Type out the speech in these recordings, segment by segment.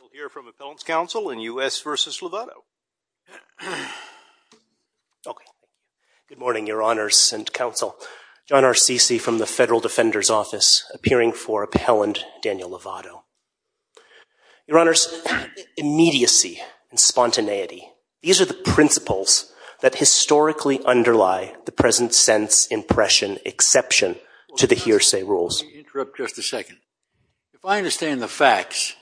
We'll hear from Appellant's Counsel in U.S. v. Lovato. Okay. Good morning, Your Honors and Counsel. John Arcisi from the Federal Defender's Office, appearing for Appellant Daniel Lovato. Your Honors, immediacy and spontaneity, these are the principles that historically underlie the present-sense impression exception to the hearsay rules. Let me interrupt just a second. If I understand the facts,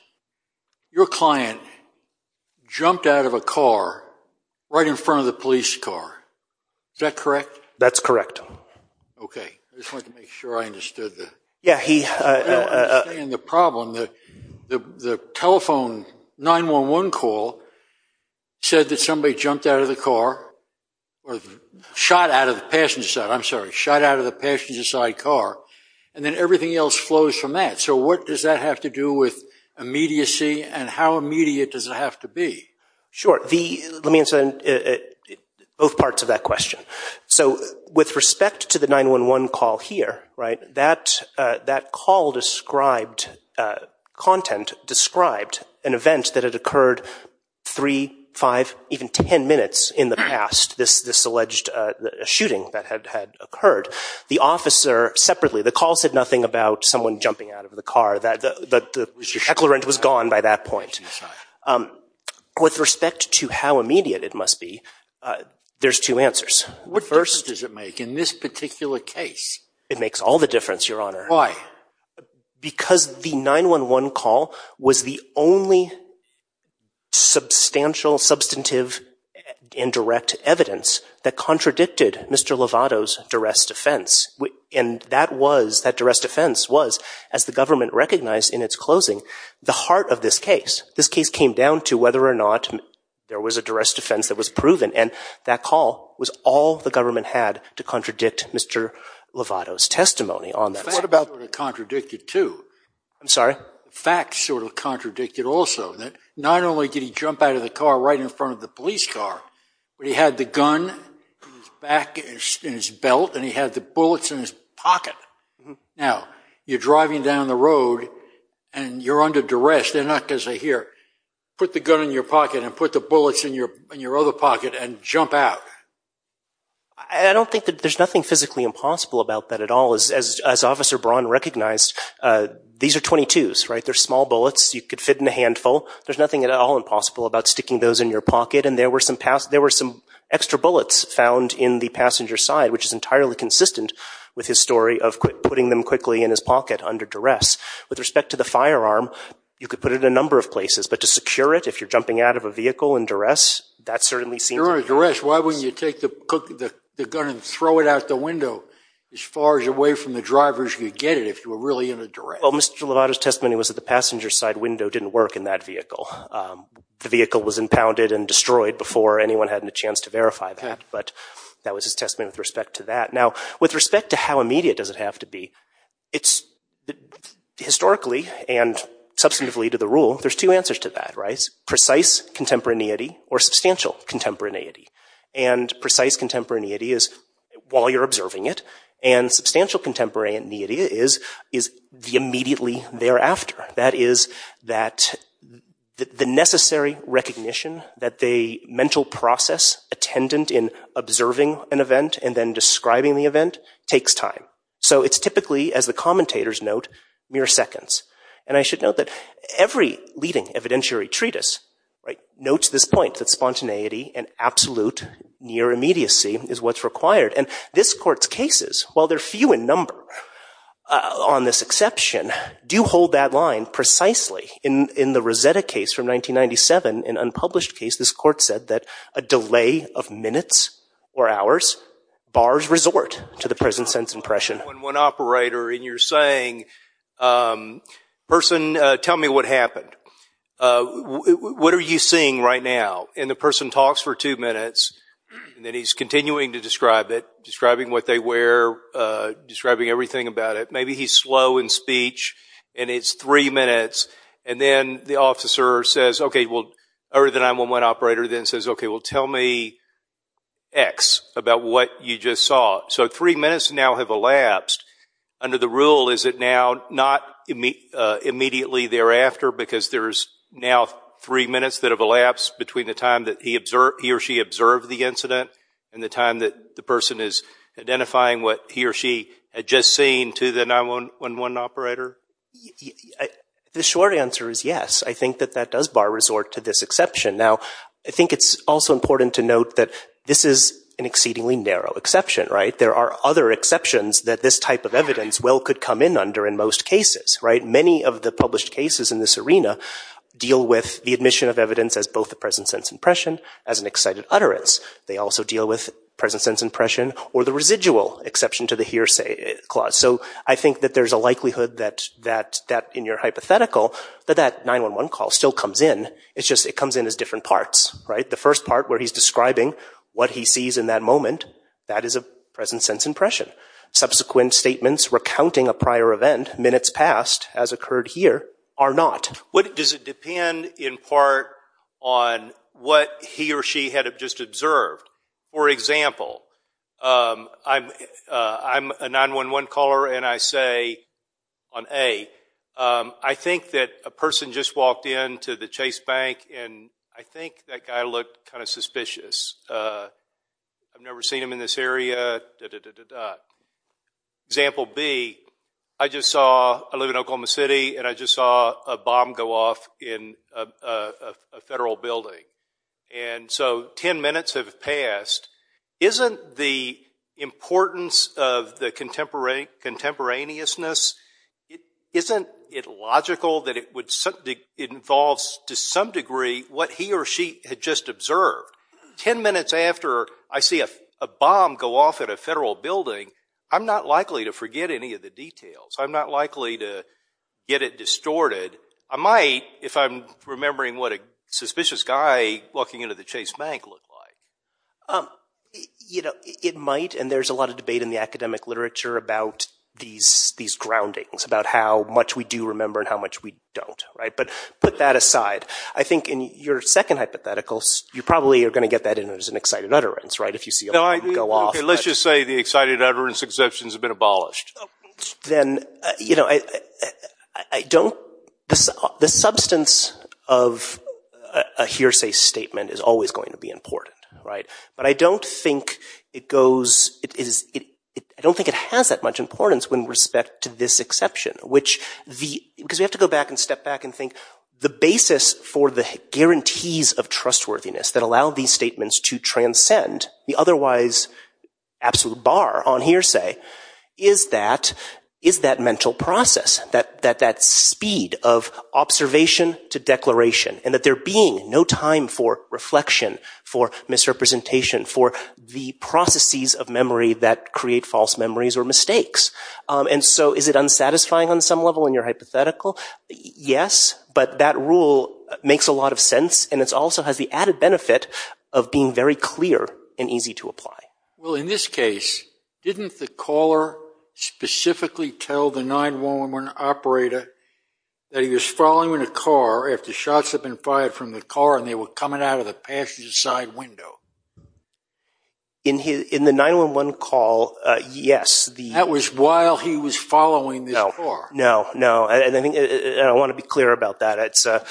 your client jumped out of a car right in front of the police car. Is that correct? That's correct. Okay. I just wanted to make sure I understood the... Yeah, he... I don't understand the problem. The telephone 911 call said that somebody jumped out of the car or shot out of the passenger side, I'm sorry, shot out of the passenger side car. And then everything else flows from that. So what does that have to do with immediacy and how immediate does it have to be? Sure. Let me answer both parts of that question. So with respect to the 911 call here, right, that call described, content described an event that had occurred 3, 5, even 10 minutes in the past, this alleged shooting that had occurred. The officer separately, the call said nothing about someone jumping out of the car. The declarant was gone by that point. With respect to how immediate it must be, there's two answers. What difference does it make in this particular case? It makes all the difference, your honor. Why? Because the 911 call was the only substantial, substantive, and direct evidence that contradicted Mr. Lovato's duress defense. And that was, that duress defense was, as the government recognized in its closing, the heart of this case. This case came down to whether or not there was a duress defense that was proven. And that call was all the government had to contradict Mr. Lovato's testimony on that. But what about the fact that it contradicted, too? I'm sorry? The fact sort of contradicted also that not only did he jump out of the car right in front of the police car, but he had the gun in his back, in his belt, and he had the bullets in his pocket. Now, you're driving down the road and you're under duress. They're not going to say, here, put the gun in your pocket and put the bullets in your other pocket and jump out. I don't think that there's nothing physically impossible about that at all. As Officer Braun recognized, these are .22s, right? They're small bullets. You could fit in a handful. There's nothing at all impossible about sticking those in your pocket. And there were some extra bullets found in the passenger's side, which is entirely consistent with his story of putting them quickly in his pocket under duress. With respect to the firearm, you could put it in a number of places. But to secure it, if you're jumping out of a vehicle in duress, that certainly seems… But if you're under duress, why wouldn't you take the gun and throw it out the window as far as away from the drivers could get it if you were really in a duress? Well, Mr. Lovato's testimony was that the passenger's side window didn't work in that vehicle. The vehicle was impounded and destroyed before anyone had a chance to verify that. But that was his testimony with respect to that. Now, with respect to how immediate does it have to be, historically and substantively to the rule, there's two answers to that, right? One is for substantial contemporaneity. And precise contemporaneity is while you're observing it. And substantial contemporaneity is the immediately thereafter. That is that the necessary recognition that the mental process attendant in observing an event and then describing the event takes time. So it's typically, as the commentators note, mere seconds. And I should note that every leading evidentiary treatise notes this point that spontaneity and absolute near immediacy is what's required. And this court's cases, while they're few in number on this exception, do hold that line precisely. In the Rosetta case from 1997, an unpublished case, this court said that a delay of minutes or hours bars resort to the present sense impression. And you're saying, person, tell me what happened. What are you seeing right now? And the person talks for two minutes. And then he's continuing to describe it, describing what they wear, describing everything about it. Maybe he's slow in speech. And it's three minutes. And then the officer says, okay, well, or the 911 operator then says, okay, well, tell me X about what you just saw. So three minutes now have elapsed. Under the rule, is it now not immediately thereafter because there's now three minutes that have elapsed between the time that he or she observed the incident and the time that the person is identifying what he or she had just seen to the 911 operator? The short answer is yes. I think that that does bar resort to this exception. Now, I think it's also important to note that this is an exceedingly narrow exception, right? There are other exceptions that this type of evidence well could come in under in most cases, right? Many of the published cases in this arena deal with the admission of evidence as both the present sense impression as an excited utterance. They also deal with present sense impression or the residual exception to the hearsay clause. So I think that there's a likelihood that in your hypothetical that that 911 call still comes in. It's just it comes in as different parts, right? The first part where he's describing what he sees in that moment, that is a present sense impression. Subsequent statements recounting a prior event minutes past as occurred here are not. Does it depend in part on what he or she had just observed? For example, I'm a 911 caller, and I say on A, I think that a person just walked into the Chase Bank, and I think that guy looked kind of suspicious. I've never seen him in this area, da-da-da-da-da. Example B, I just saw I live in Oklahoma City, and I just saw a bomb go off in a federal building. And so ten minutes have passed. Isn't the importance of the contemporaneousness, isn't it logical that it involves to some degree what he or she had just observed? Ten minutes after I see a bomb go off at a federal building, I'm not likely to forget any of the details. I'm not likely to get it distorted. I might if I'm remembering what a suspicious guy walking into the Chase Bank looked like. You know, it might, and there's a lot of debate in the academic literature about these groundings, about how much we do remember and how much we don't, right? But put that aside. I think in your second hypothetical, you probably are going to get that in as an excited utterance, right, if you see a bomb go off. Okay, let's just say the excited utterance exceptions have been abolished. Then, you know, I don't – the substance of a hearsay statement is always going to be important, right? But I don't think it goes – I don't think it has that much importance with respect to this exception, because we have to go back and step back and think the basis for the guarantees of trustworthiness that allow these statements to transcend the otherwise absolute bar on hearsay is that mental process, that speed of observation to declaration, and that there being no time for reflection, for misrepresentation, for the processes of memory that create false memories or mistakes. And so is it unsatisfying on some level in your hypothetical? Yes, but that rule makes a lot of sense, and it also has the added benefit of being very clear and easy to apply. Well, in this case, didn't the caller specifically tell the 911 operator that he was following a car after shots had been fired from the car and they were coming out of the passenger side window? In the 911 call, yes. That was while he was following this car. No, no, and I want to be clear about that.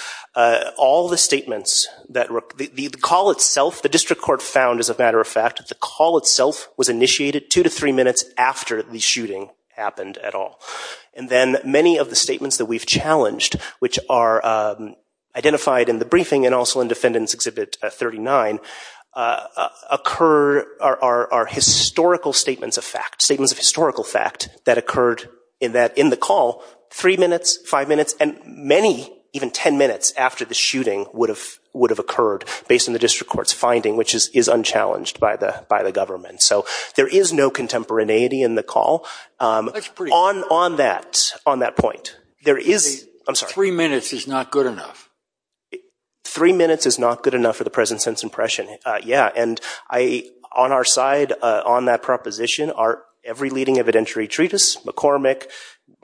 All the statements that – the call itself, the district court found, as a matter of fact, the call itself was initiated two to three minutes after the shooting happened at all. And then many of the statements that we've challenged, which are identified in the briefing and also in Defendant's Exhibit 39, occur – are historical statements of fact, that occurred in the call three minutes, five minutes, and many even ten minutes after the shooting would have occurred, based on the district court's finding, which is unchallenged by the government. So there is no contemporaneity in the call. That's pretty good. On that point, there is – I'm sorry. Three minutes is not good enough. Three minutes is not good enough for the present sense impression, yeah. And I – on our side, on that proposition, are every leading evidentiary treatise, McCormick,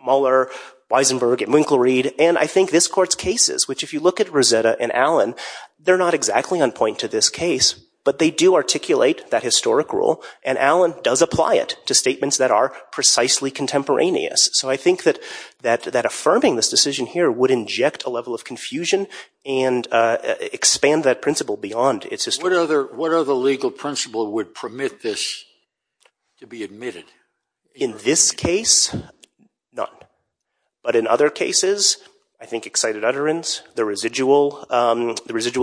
Mueller, Weisenberg, and Winkler-Reed, and I think this court's cases, which if you look at Rosetta and Allen, they're not exactly on point to this case, but they do articulate that historic rule, and Allen does apply it to statements that are precisely contemporaneous. So I think that affirming this decision here would inject a level of confusion and expand that principle beyond its history. What other legal principle would permit this to be admitted? In this case, none. But in other cases, I think excited utterance, the residual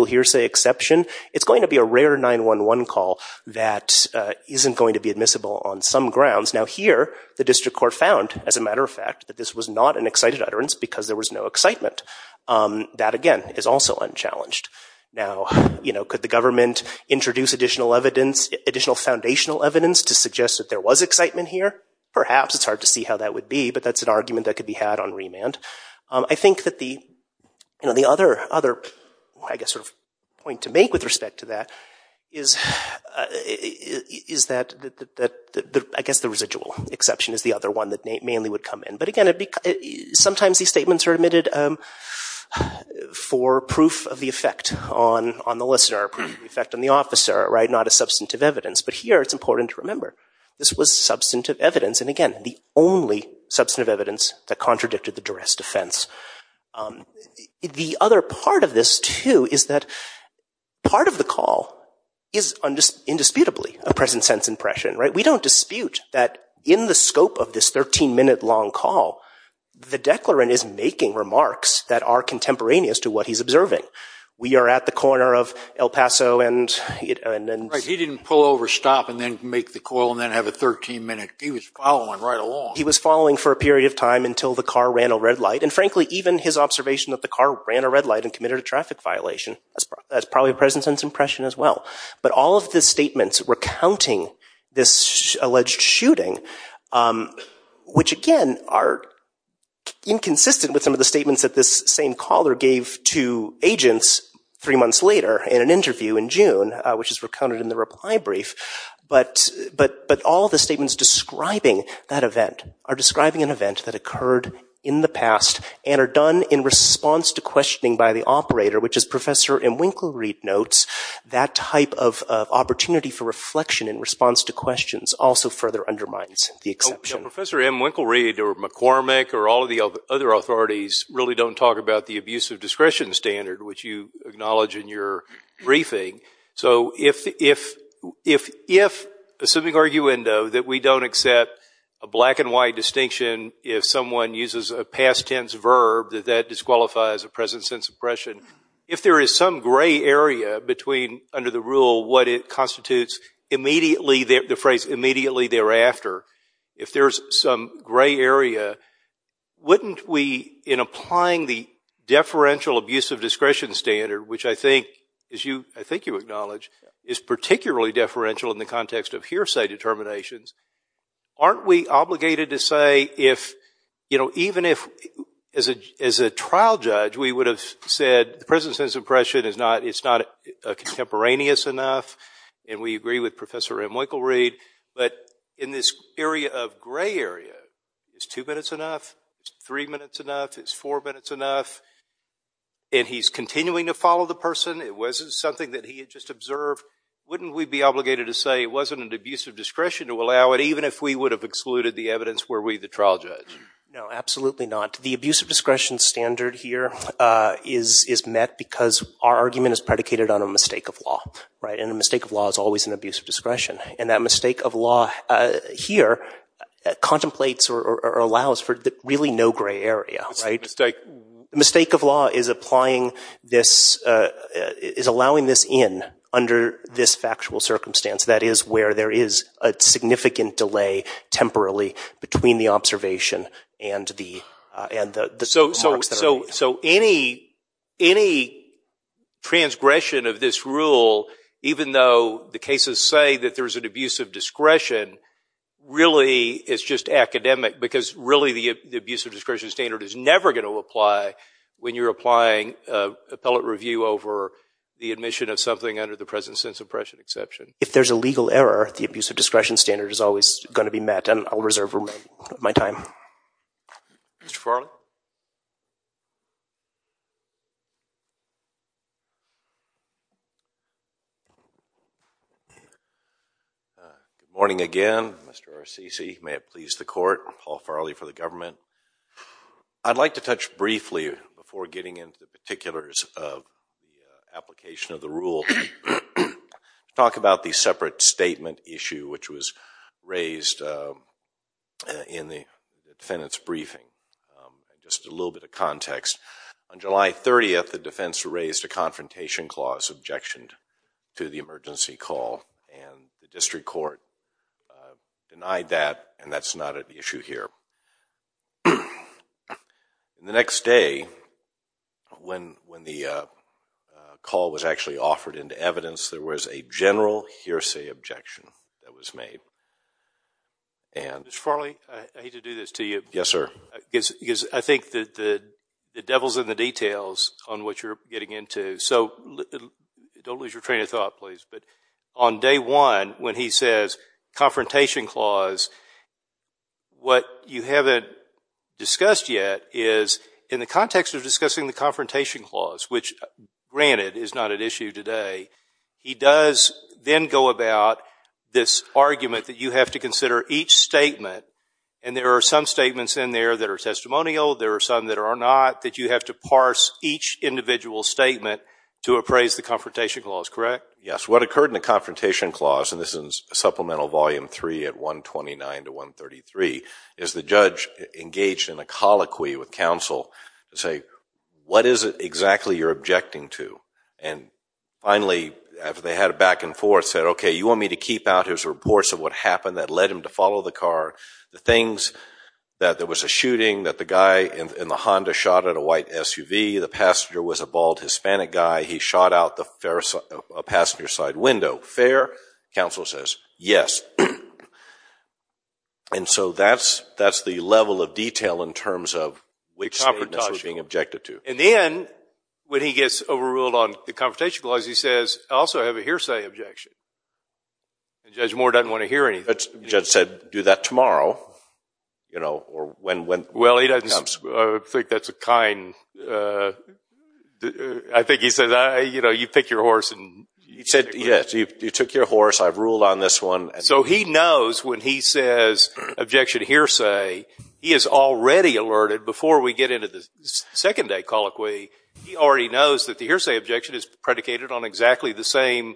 hearsay exception. It's going to be a rare 911 call that isn't going to be admissible on some grounds. Now here, the district court found, as a matter of fact, that this was not an excited utterance because there was no excitement. That, again, is also unchallenged. Now, could the government introduce additional evidence, additional foundational evidence, to suggest that there was excitement here? Perhaps. It's hard to see how that would be, but that's an argument that could be had on remand. I think that the other point to make with respect to that is that, I guess, the residual exception is the other one that mainly would come in. But again, sometimes these statements are admitted for proof of the effect on the listener, proof of the effect on the officer, not as substantive evidence. But here, it's important to remember, this was substantive evidence, and again, the only substantive evidence that contradicted the duress defense. The other part of this, too, is that part of the call is indisputably a present-sense impression. We don't dispute that in the scope of this 13-minute long call, the declarant is making remarks that are contemporaneous to what he's observing. We are at the corner of El Paso and— Right. He didn't pull over, stop, and then make the call and then have a 13-minute—he was following right along. He was following for a period of time until the car ran a red light. And frankly, even his observation that the car ran a red light and committed a traffic violation, that's probably a present-sense impression as well. But all of the statements recounting this alleged shooting, which again are inconsistent with some of the statements that this same caller gave to agents three months later in an interview in June, which is recounted in the reply brief, but all the statements describing that event are describing an event that occurred in the past and are done in response to questioning by the operator, which as Professor M. Winklereid notes, that type of opportunity for reflection in response to questions also further undermines the exception. Professor M. Winklereid or McCormick or all of the other authorities really don't talk about the abuse of discretion standard, which you acknowledge in your briefing. So if—assuming arguendo that we don't accept a black-and-white distinction if someone uses a past-tense verb, that that disqualifies a present-sense impression, if there is some gray area between, under the rule, what it constitutes immediately thereafter, if there's some gray area, wouldn't we, in applying the deferential abuse of discretion standard, which I think you acknowledge is particularly deferential in the context of hearsay determinations, aren't we obligated to say if—even if, as a trial judge, we would have said the present-sense impression is not contemporaneous enough, and we agree with Professor M. Winklereid, but in this area of gray area, is two minutes enough? Is three minutes enough? Is four minutes enough? And he's continuing to follow the person. It wasn't something that he had just observed. Wouldn't we be obligated to say it wasn't an abuse of discretion to allow it, even if we would have excluded the evidence were we the trial judge? No, absolutely not. The abuse of discretion standard here is met because our argument is predicated on a mistake of law, right? And a mistake of law is always an abuse of discretion. And that mistake of law here contemplates or allows for really no gray area, right? Mistake of law is applying this—is allowing this in under this factual circumstance. That is where there is a significant delay temporarily between the observation and the marks that are— So any transgression of this rule, even though the cases say that there's an abuse of discretion, really it's just academic because really the abuse of discretion standard is never going to apply when you're applying appellate review over the admission of something under the present sense of pressure exception. If there's a legal error, the abuse of discretion standard is always going to be met, and I'll reserve my time. Mr. Farley? Good morning again, Mr. Arsici. May it please the court, Paul Farley for the government. I'd like to touch briefly, before getting into the particulars of the application of the rule, to talk about the separate statement issue which was raised in the defendant's briefing. Just a little bit of context. On July 30th, the defense raised a confrontation clause, objectioned to the emergency call, and the district court denied that, and that's not an issue here. The next day, when the call was actually offered into evidence, there was a general hearsay objection that was made. Mr. Farley, I hate to do this to you. Yes, sir. Because I think the devil's in the details on what you're getting into. So don't lose your train of thought, please. But on day one, when he says confrontation clause, what you haven't discussed yet is, in the context of discussing the confrontation clause, which, granted, is not at issue today, he does then go about this argument that you have to consider each statement, and there are some statements in there that are testimonial, there are some that are not, that you have to parse each individual statement to appraise the confrontation clause, correct? Yes. What occurred in the confrontation clause, and this is Supplemental Volume 3 at 129 to 133, is the judge engaged in a colloquy with counsel to say, what is it exactly you're objecting to? And finally, after they had a back and forth, said, okay, you want me to keep out his reports of what happened that led him to follow the car, the things that there was a shooting, that the guy in the Honda shot at a white SUV, the passenger was a bald Hispanic guy, he shot out a passenger side window. Fair? Counsel says, yes. And so that's the level of detail in terms of which statements were being objected to. In the end, when he gets overruled on the confrontation clause, he says, I also have a hearsay objection. And Judge Moore doesn't want to hear anything. The judge said, do that tomorrow, you know, or when that comes. I think that's a kind, I think he says, you know, you pick your horse. He said, yes, you took your horse, I've ruled on this one. So he knows when he says objection hearsay, he is already alerted before we get into the second day colloquy, he already knows that the hearsay objection is predicated on exactly the same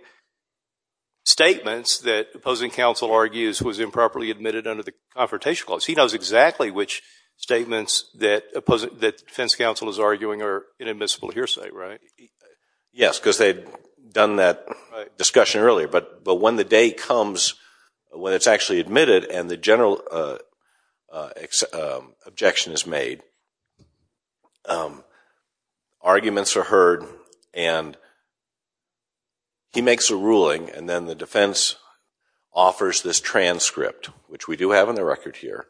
statements that opposing counsel argues was improperly admitted under the confrontation clause. He knows exactly which statements that defense counsel is arguing are inadmissible hearsay, right? Yes, because they had done that discussion earlier. But when the day comes when it's actually admitted and the general objection is made, arguments are heard and he makes a ruling and then the defense offers this transcript, which we do have on the record here.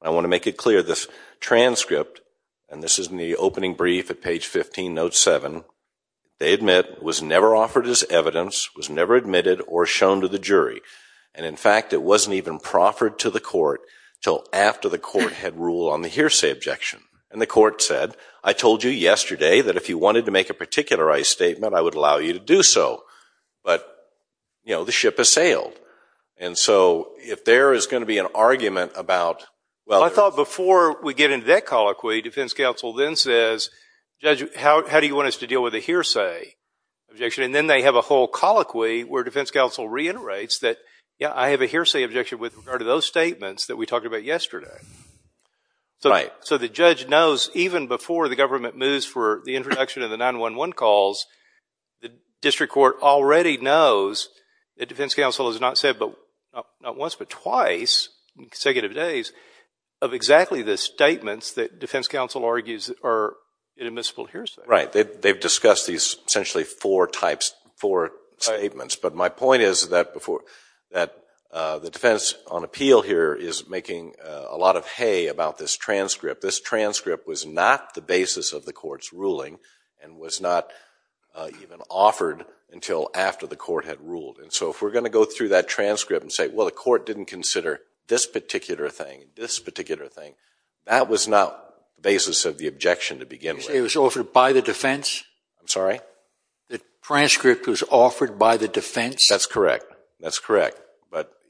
I want to make it clear, this transcript, and this is in the opening brief at page 15, note 7, they admit was never offered as evidence, was never admitted or shown to the jury. And in fact, it wasn't even proffered to the court until after the court had ruled on the hearsay objection. And the court said, I told you yesterday that if you wanted to make a particularized statement, I would allow you to do so. But, you know, the ship has sailed. And so if there is going to be an argument about – Well, I thought before we get into that colloquy, defense counsel then says, Judge, how do you want us to deal with the hearsay objection? And then they have a whole colloquy where defense counsel reiterates that, yeah, I have a hearsay objection with regard to those statements that we talked about yesterday. Right. So the judge knows even before the government moves for the introduction of the 911 calls, the district court already knows that defense counsel has not said not once but twice in consecutive days of exactly the statements that defense counsel argues are inadmissible hearsay. Right. They've discussed these essentially four types, four statements. But my point is that the defense on appeal here is making a lot of hay about this transcript. This transcript was not the basis of the court's ruling and was not even offered until after the court had ruled. And so if we're going to go through that transcript and say, well, the court didn't consider this particular thing, this particular thing, that was not the basis of the objection to begin with. You say it was offered by the defense? I'm sorry? The transcript was offered by the defense? That's correct. That's correct.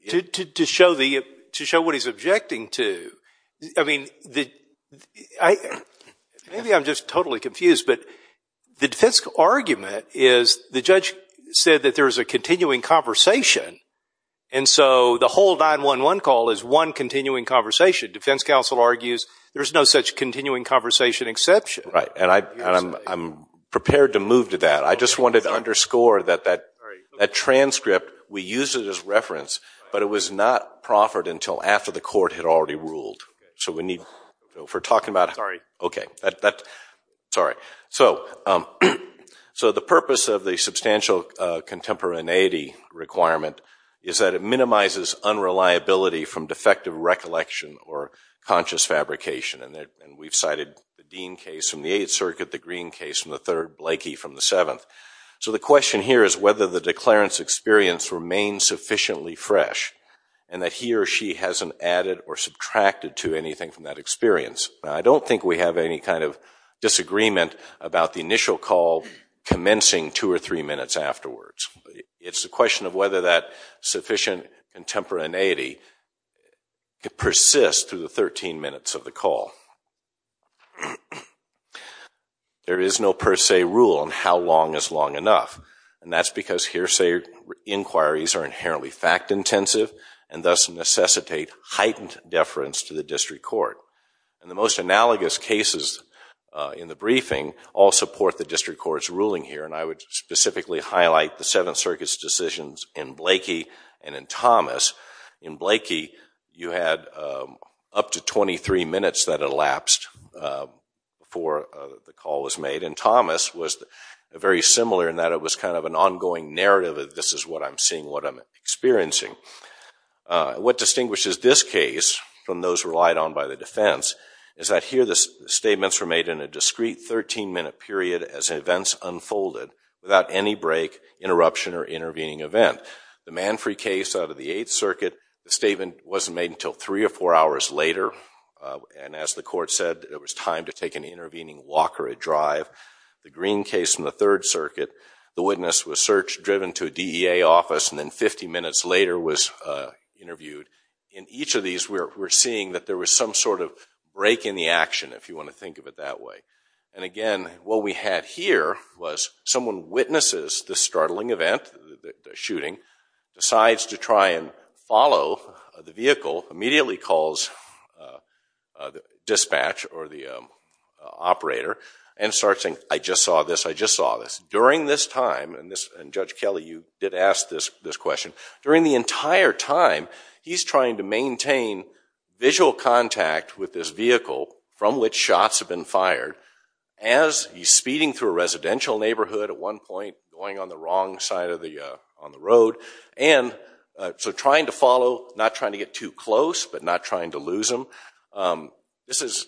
To show what he's objecting to, I mean, maybe I'm just totally confused, but the defense argument is the judge said that there's a continuing conversation, and so the whole 911 call is one continuing conversation. Defense counsel argues there's no such continuing conversation exception. Right. And I'm prepared to move to that. I just wanted to underscore that that transcript, we used it as reference, but it was not proffered until after the court had already ruled. So we need to talk about it. Sorry. Okay. Sorry. So the purpose of the substantial contemporaneity requirement is that it minimizes unreliability from defective recollection or conscious fabrication. And we've cited the Dean case from the Eighth Circuit, the Green case from the Third, Blakey from the Seventh. So the question here is whether the declarant's experience remains sufficiently fresh and that he or she hasn't added or subtracted to anything from that experience. I don't think we have any kind of disagreement about the initial call commencing two or three minutes afterwards. It's a question of whether that sufficient contemporaneity could persist through the 13 minutes of the call. There is no per se rule on how long is long enough, and that's because hearsay inquiries are inherently fact intensive and thus necessitate heightened deference to the district court. And the most analogous cases in the briefing all support the district court's ruling here, and I would specifically highlight the Seventh Circuit's decisions in Blakey and in Thomas. In Blakey, you had up to 23 minutes that elapsed before the call was made, and Thomas was very similar in that it was kind of an ongoing narrative of this is what I'm seeing, what I'm experiencing. What distinguishes this case from those relied on by the defense is that here the statements were made in a discrete 13-minute period as events unfolded without any break, interruption, or intervening event. The Manfrey case out of the Eighth Circuit, the statement wasn't made until three or four hours later, and as the court said, it was time to take an intervening walk or a drive. The Green case from the Third Circuit, the witness was searched, driven to a DEA office, and then 50 minutes later was interviewed. In each of these, we're seeing that there was some sort of break in the action, if you want to think of it that way. And again, what we had here was someone witnesses the startling event, the shooting, decides to try and follow the vehicle, immediately calls dispatch or the operator, and starts saying, I just saw this, I just saw this. During this time, and Judge Kelly, you did ask this question, during the entire time, he's trying to maintain visual contact with this vehicle from which shots have been fired. As he's speeding through a residential neighborhood at one point, going on the wrong side of the road, and so trying to follow, not trying to get too close, but not trying to lose him. This is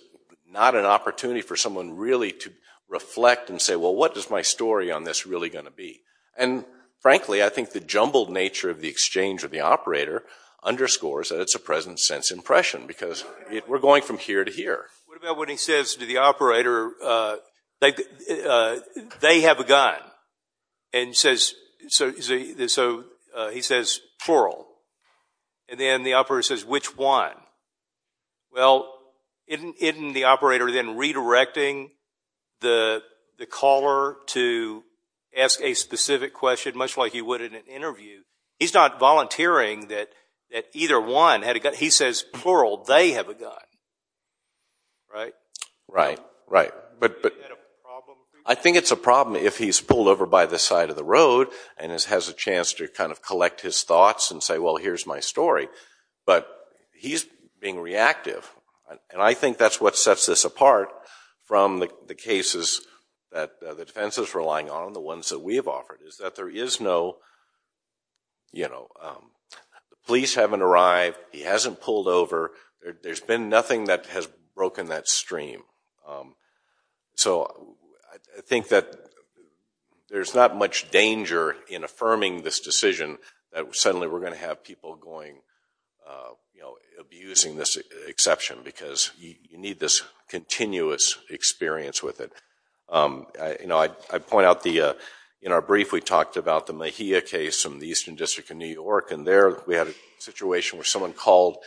not an opportunity for someone really to reflect and say, well, what is my story on this really going to be? And frankly, I think the jumbled nature of the exchange with the operator underscores that it's a present-sense impression, because we're going from here to here. What about when he says to the operator, they have a gun? And so he says, plural. And then the operator says, which one? Well, isn't the operator then redirecting the caller to ask a specific question, much like he would in an interview? He's not volunteering that either one had a gun. He says, plural, they have a gun. Right? Right, right. But I think it's a problem if he's pulled over by the side of the road and has a chance to kind of collect his thoughts and say, well, here's my story. But he's being reactive. And I think that's what sets this apart from the cases that the defense is relying on, the ones that we have offered, is that there is no, you know, the police haven't arrived. He hasn't pulled over. There's been nothing that has broken that stream. So I think that there's not much danger in affirming this decision that suddenly we're going to have people going, you know, abusing this exception because you need this continuous experience with it. You know, I point out in our brief, we talked about the Mejia case from the Eastern District of New York. And there we had a situation where someone called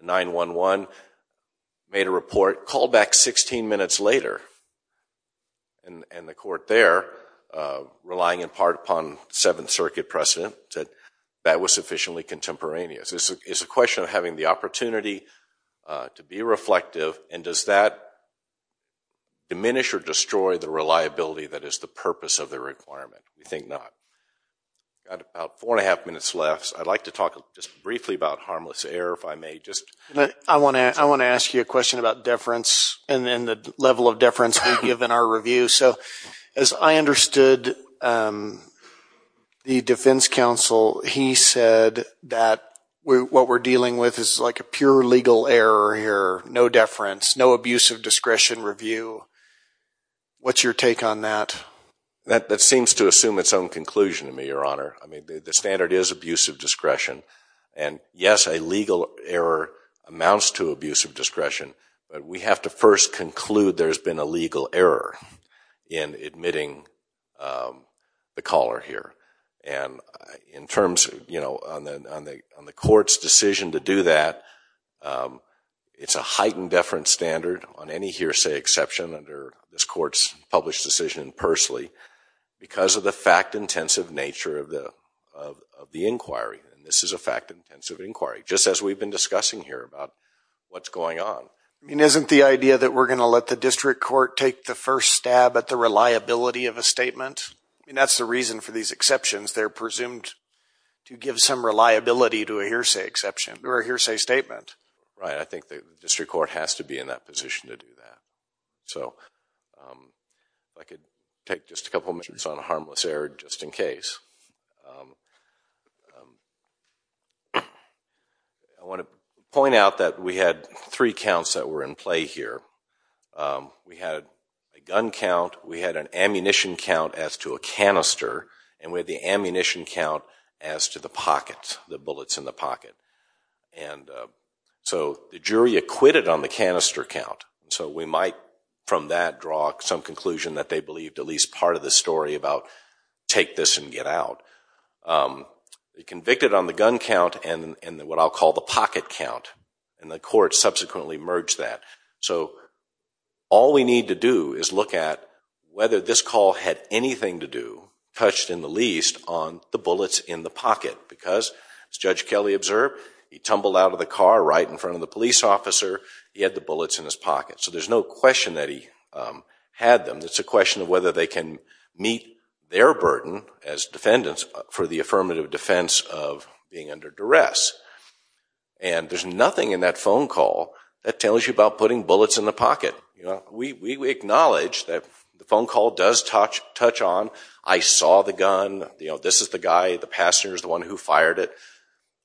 911, made a report, called back 16 minutes later. And the court there, relying in part upon Seventh Circuit precedent, said that was sufficiently contemporaneous. It's a question of having the opportunity to be reflective. And does that diminish or destroy the reliability that is the purpose of the requirement? We think not. We've got about four and a half minutes left. I'd like to talk just briefly about harmless error, if I may. I want to ask you a question about deference and then the level of deference we give in our review. So as I understood the defense counsel, he said that what we're dealing with is like a pure legal error here, no deference, no abuse of discretion review. What's your take on that? That seems to assume its own conclusion to me, Your Honor. I mean, the standard is abuse of discretion. And, yes, a legal error amounts to abuse of discretion. But we have to first conclude there's been a legal error in admitting the caller here. And in terms, you know, on the court's decision to do that, it's a heightened deference standard on any hearsay exception under this court's published decision personally because of the fact-intensive nature of the inquiry. And this is a fact-intensive inquiry, just as we've been discussing here about what's going on. I mean, isn't the idea that we're going to let the district court take the first stab at the reliability of a statement? I mean, that's the reason for these exceptions. They're presumed to give some reliability to a hearsay exception or a hearsay statement. Right. I think the district court has to be in that position to do that. So if I could take just a couple of minutes on harmless error just in case. I want to point out that we had three counts that were in play here. We had a gun count. We had an ammunition count as to a canister. And we had the ammunition count as to the pockets, the bullets in the pocket. And so the jury acquitted on the canister count. So we might from that draw some conclusion that they believed at least part of the story about take this and get out. They convicted on the gun count and what I'll call the pocket count. And the court subsequently merged that. So all we need to do is look at whether this call had anything to do, touched in the least, on the bullets in the pocket. Because, as Judge Kelly observed, he tumbled out of the car right in front of the police officer. He had the bullets in his pocket. So there's no question that he had them. It's a question of whether they can meet their burden as defendants for the affirmative defense of being under duress. And there's nothing in that phone call that tells you about putting bullets in the pocket. We acknowledge that the phone call does touch on, I saw the gun, this is the guy, the passenger is the one who fired it.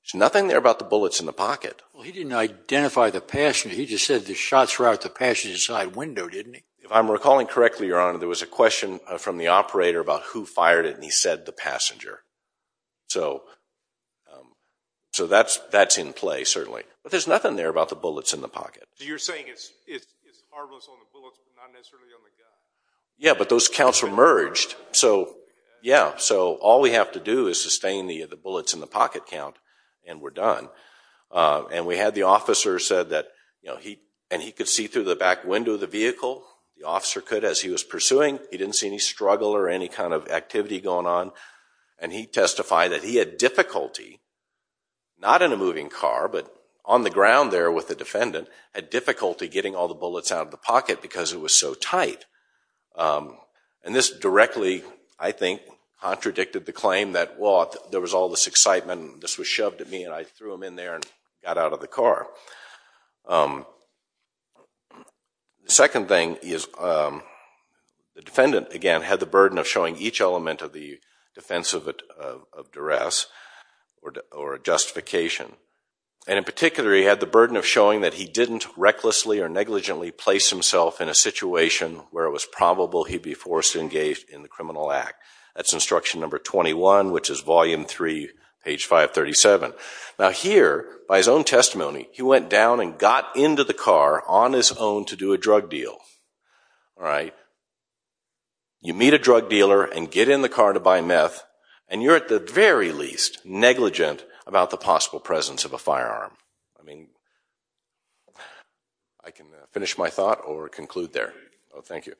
There's nothing there about the bullets in the pocket. Well, he didn't identify the passenger. He just said the shots were out the passenger's side window, didn't he? If I'm recalling correctly, Your Honor, there was a question from the operator about who fired it and he said the passenger. So that's in play, certainly. But there's nothing there about the bullets in the pocket. So you're saying it's harmless on the bullets but not necessarily on the gun? Yeah, but those counts were merged. So, yeah. So all we have to do is sustain the bullets in the pocket count and we're done. And we had the officer said that he could see through the back window of the vehicle. The officer could as he was pursuing. He didn't see any struggle or any kind of activity going on. And he testified that he had difficulty, not in a moving car, but on the ground there with the defendant, had difficulty getting all the bullets out of the pocket because it was so tight. And this directly, I think, contradicted the claim that, well, there was all this excitement and this was shoved at me and I threw them in there and got out of the car. The second thing is the defendant, again, had the burden of showing each element of the defense of duress or justification. And in particular, he had the burden of showing that he didn't recklessly or negligently place himself in a situation where it was probable he'd be forced to engage in the criminal act. That's instruction number 21, which is volume 3, page 537. Now here, by his own testimony, he went down and got into the car on his own to do a drug deal. All right. You meet a drug dealer and get in the car to buy meth and you're at the very least negligent about the possible presence of a firearm. I mean, I can finish my thought or conclude there. Oh, thank you.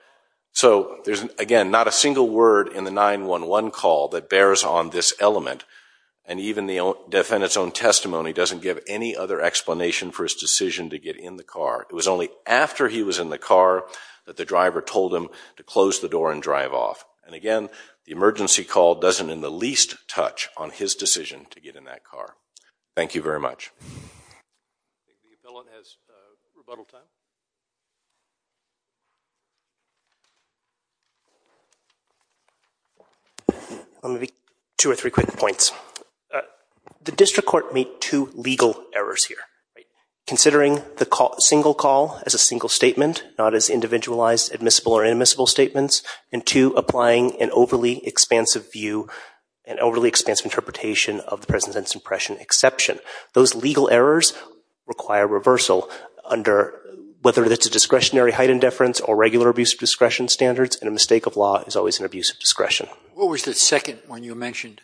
So there's, again, not a single word in the 911 call that bears on this element, and even the defendant's own testimony doesn't give any other explanation for his decision to get in the car. It was only after he was in the car that the driver told him to close the door and drive off. And again, the emergency call doesn't in the least touch on his decision to get in that car. Thank you very much. I think the appellant has rebuttal time. Let me make two or three quick points. The district court made two legal errors here. Considering the single call as a single statement, not as individualized, admissible, or inadmissible statements, and two, applying an overly expansive view and overly expansive interpretation of the President's impression exception. Those legal errors require reversal under whether it's a discretionary height indifference or regular abuse of discretion standards, and a mistake of law is always an abuse of discretion. What was the second one you mentioned?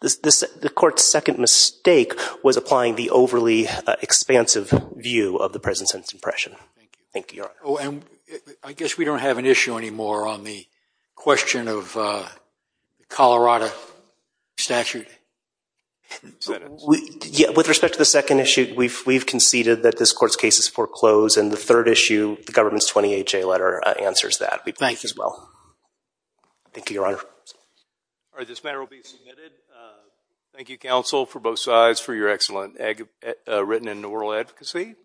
The court's second mistake was applying the overly expansive view of the President's impression. Thank you. Oh, and I guess we don't have an issue anymore on the question of Colorado statute. With respect to the second issue, we've conceded that this court's case is foreclosed, and the third issue, the government's 28-J letter answers that as well. Thank you. Thank you, Your Honor. All right, this matter will be submitted. Thank you, counsel, for both sides, for your excellent written and oral advocacy.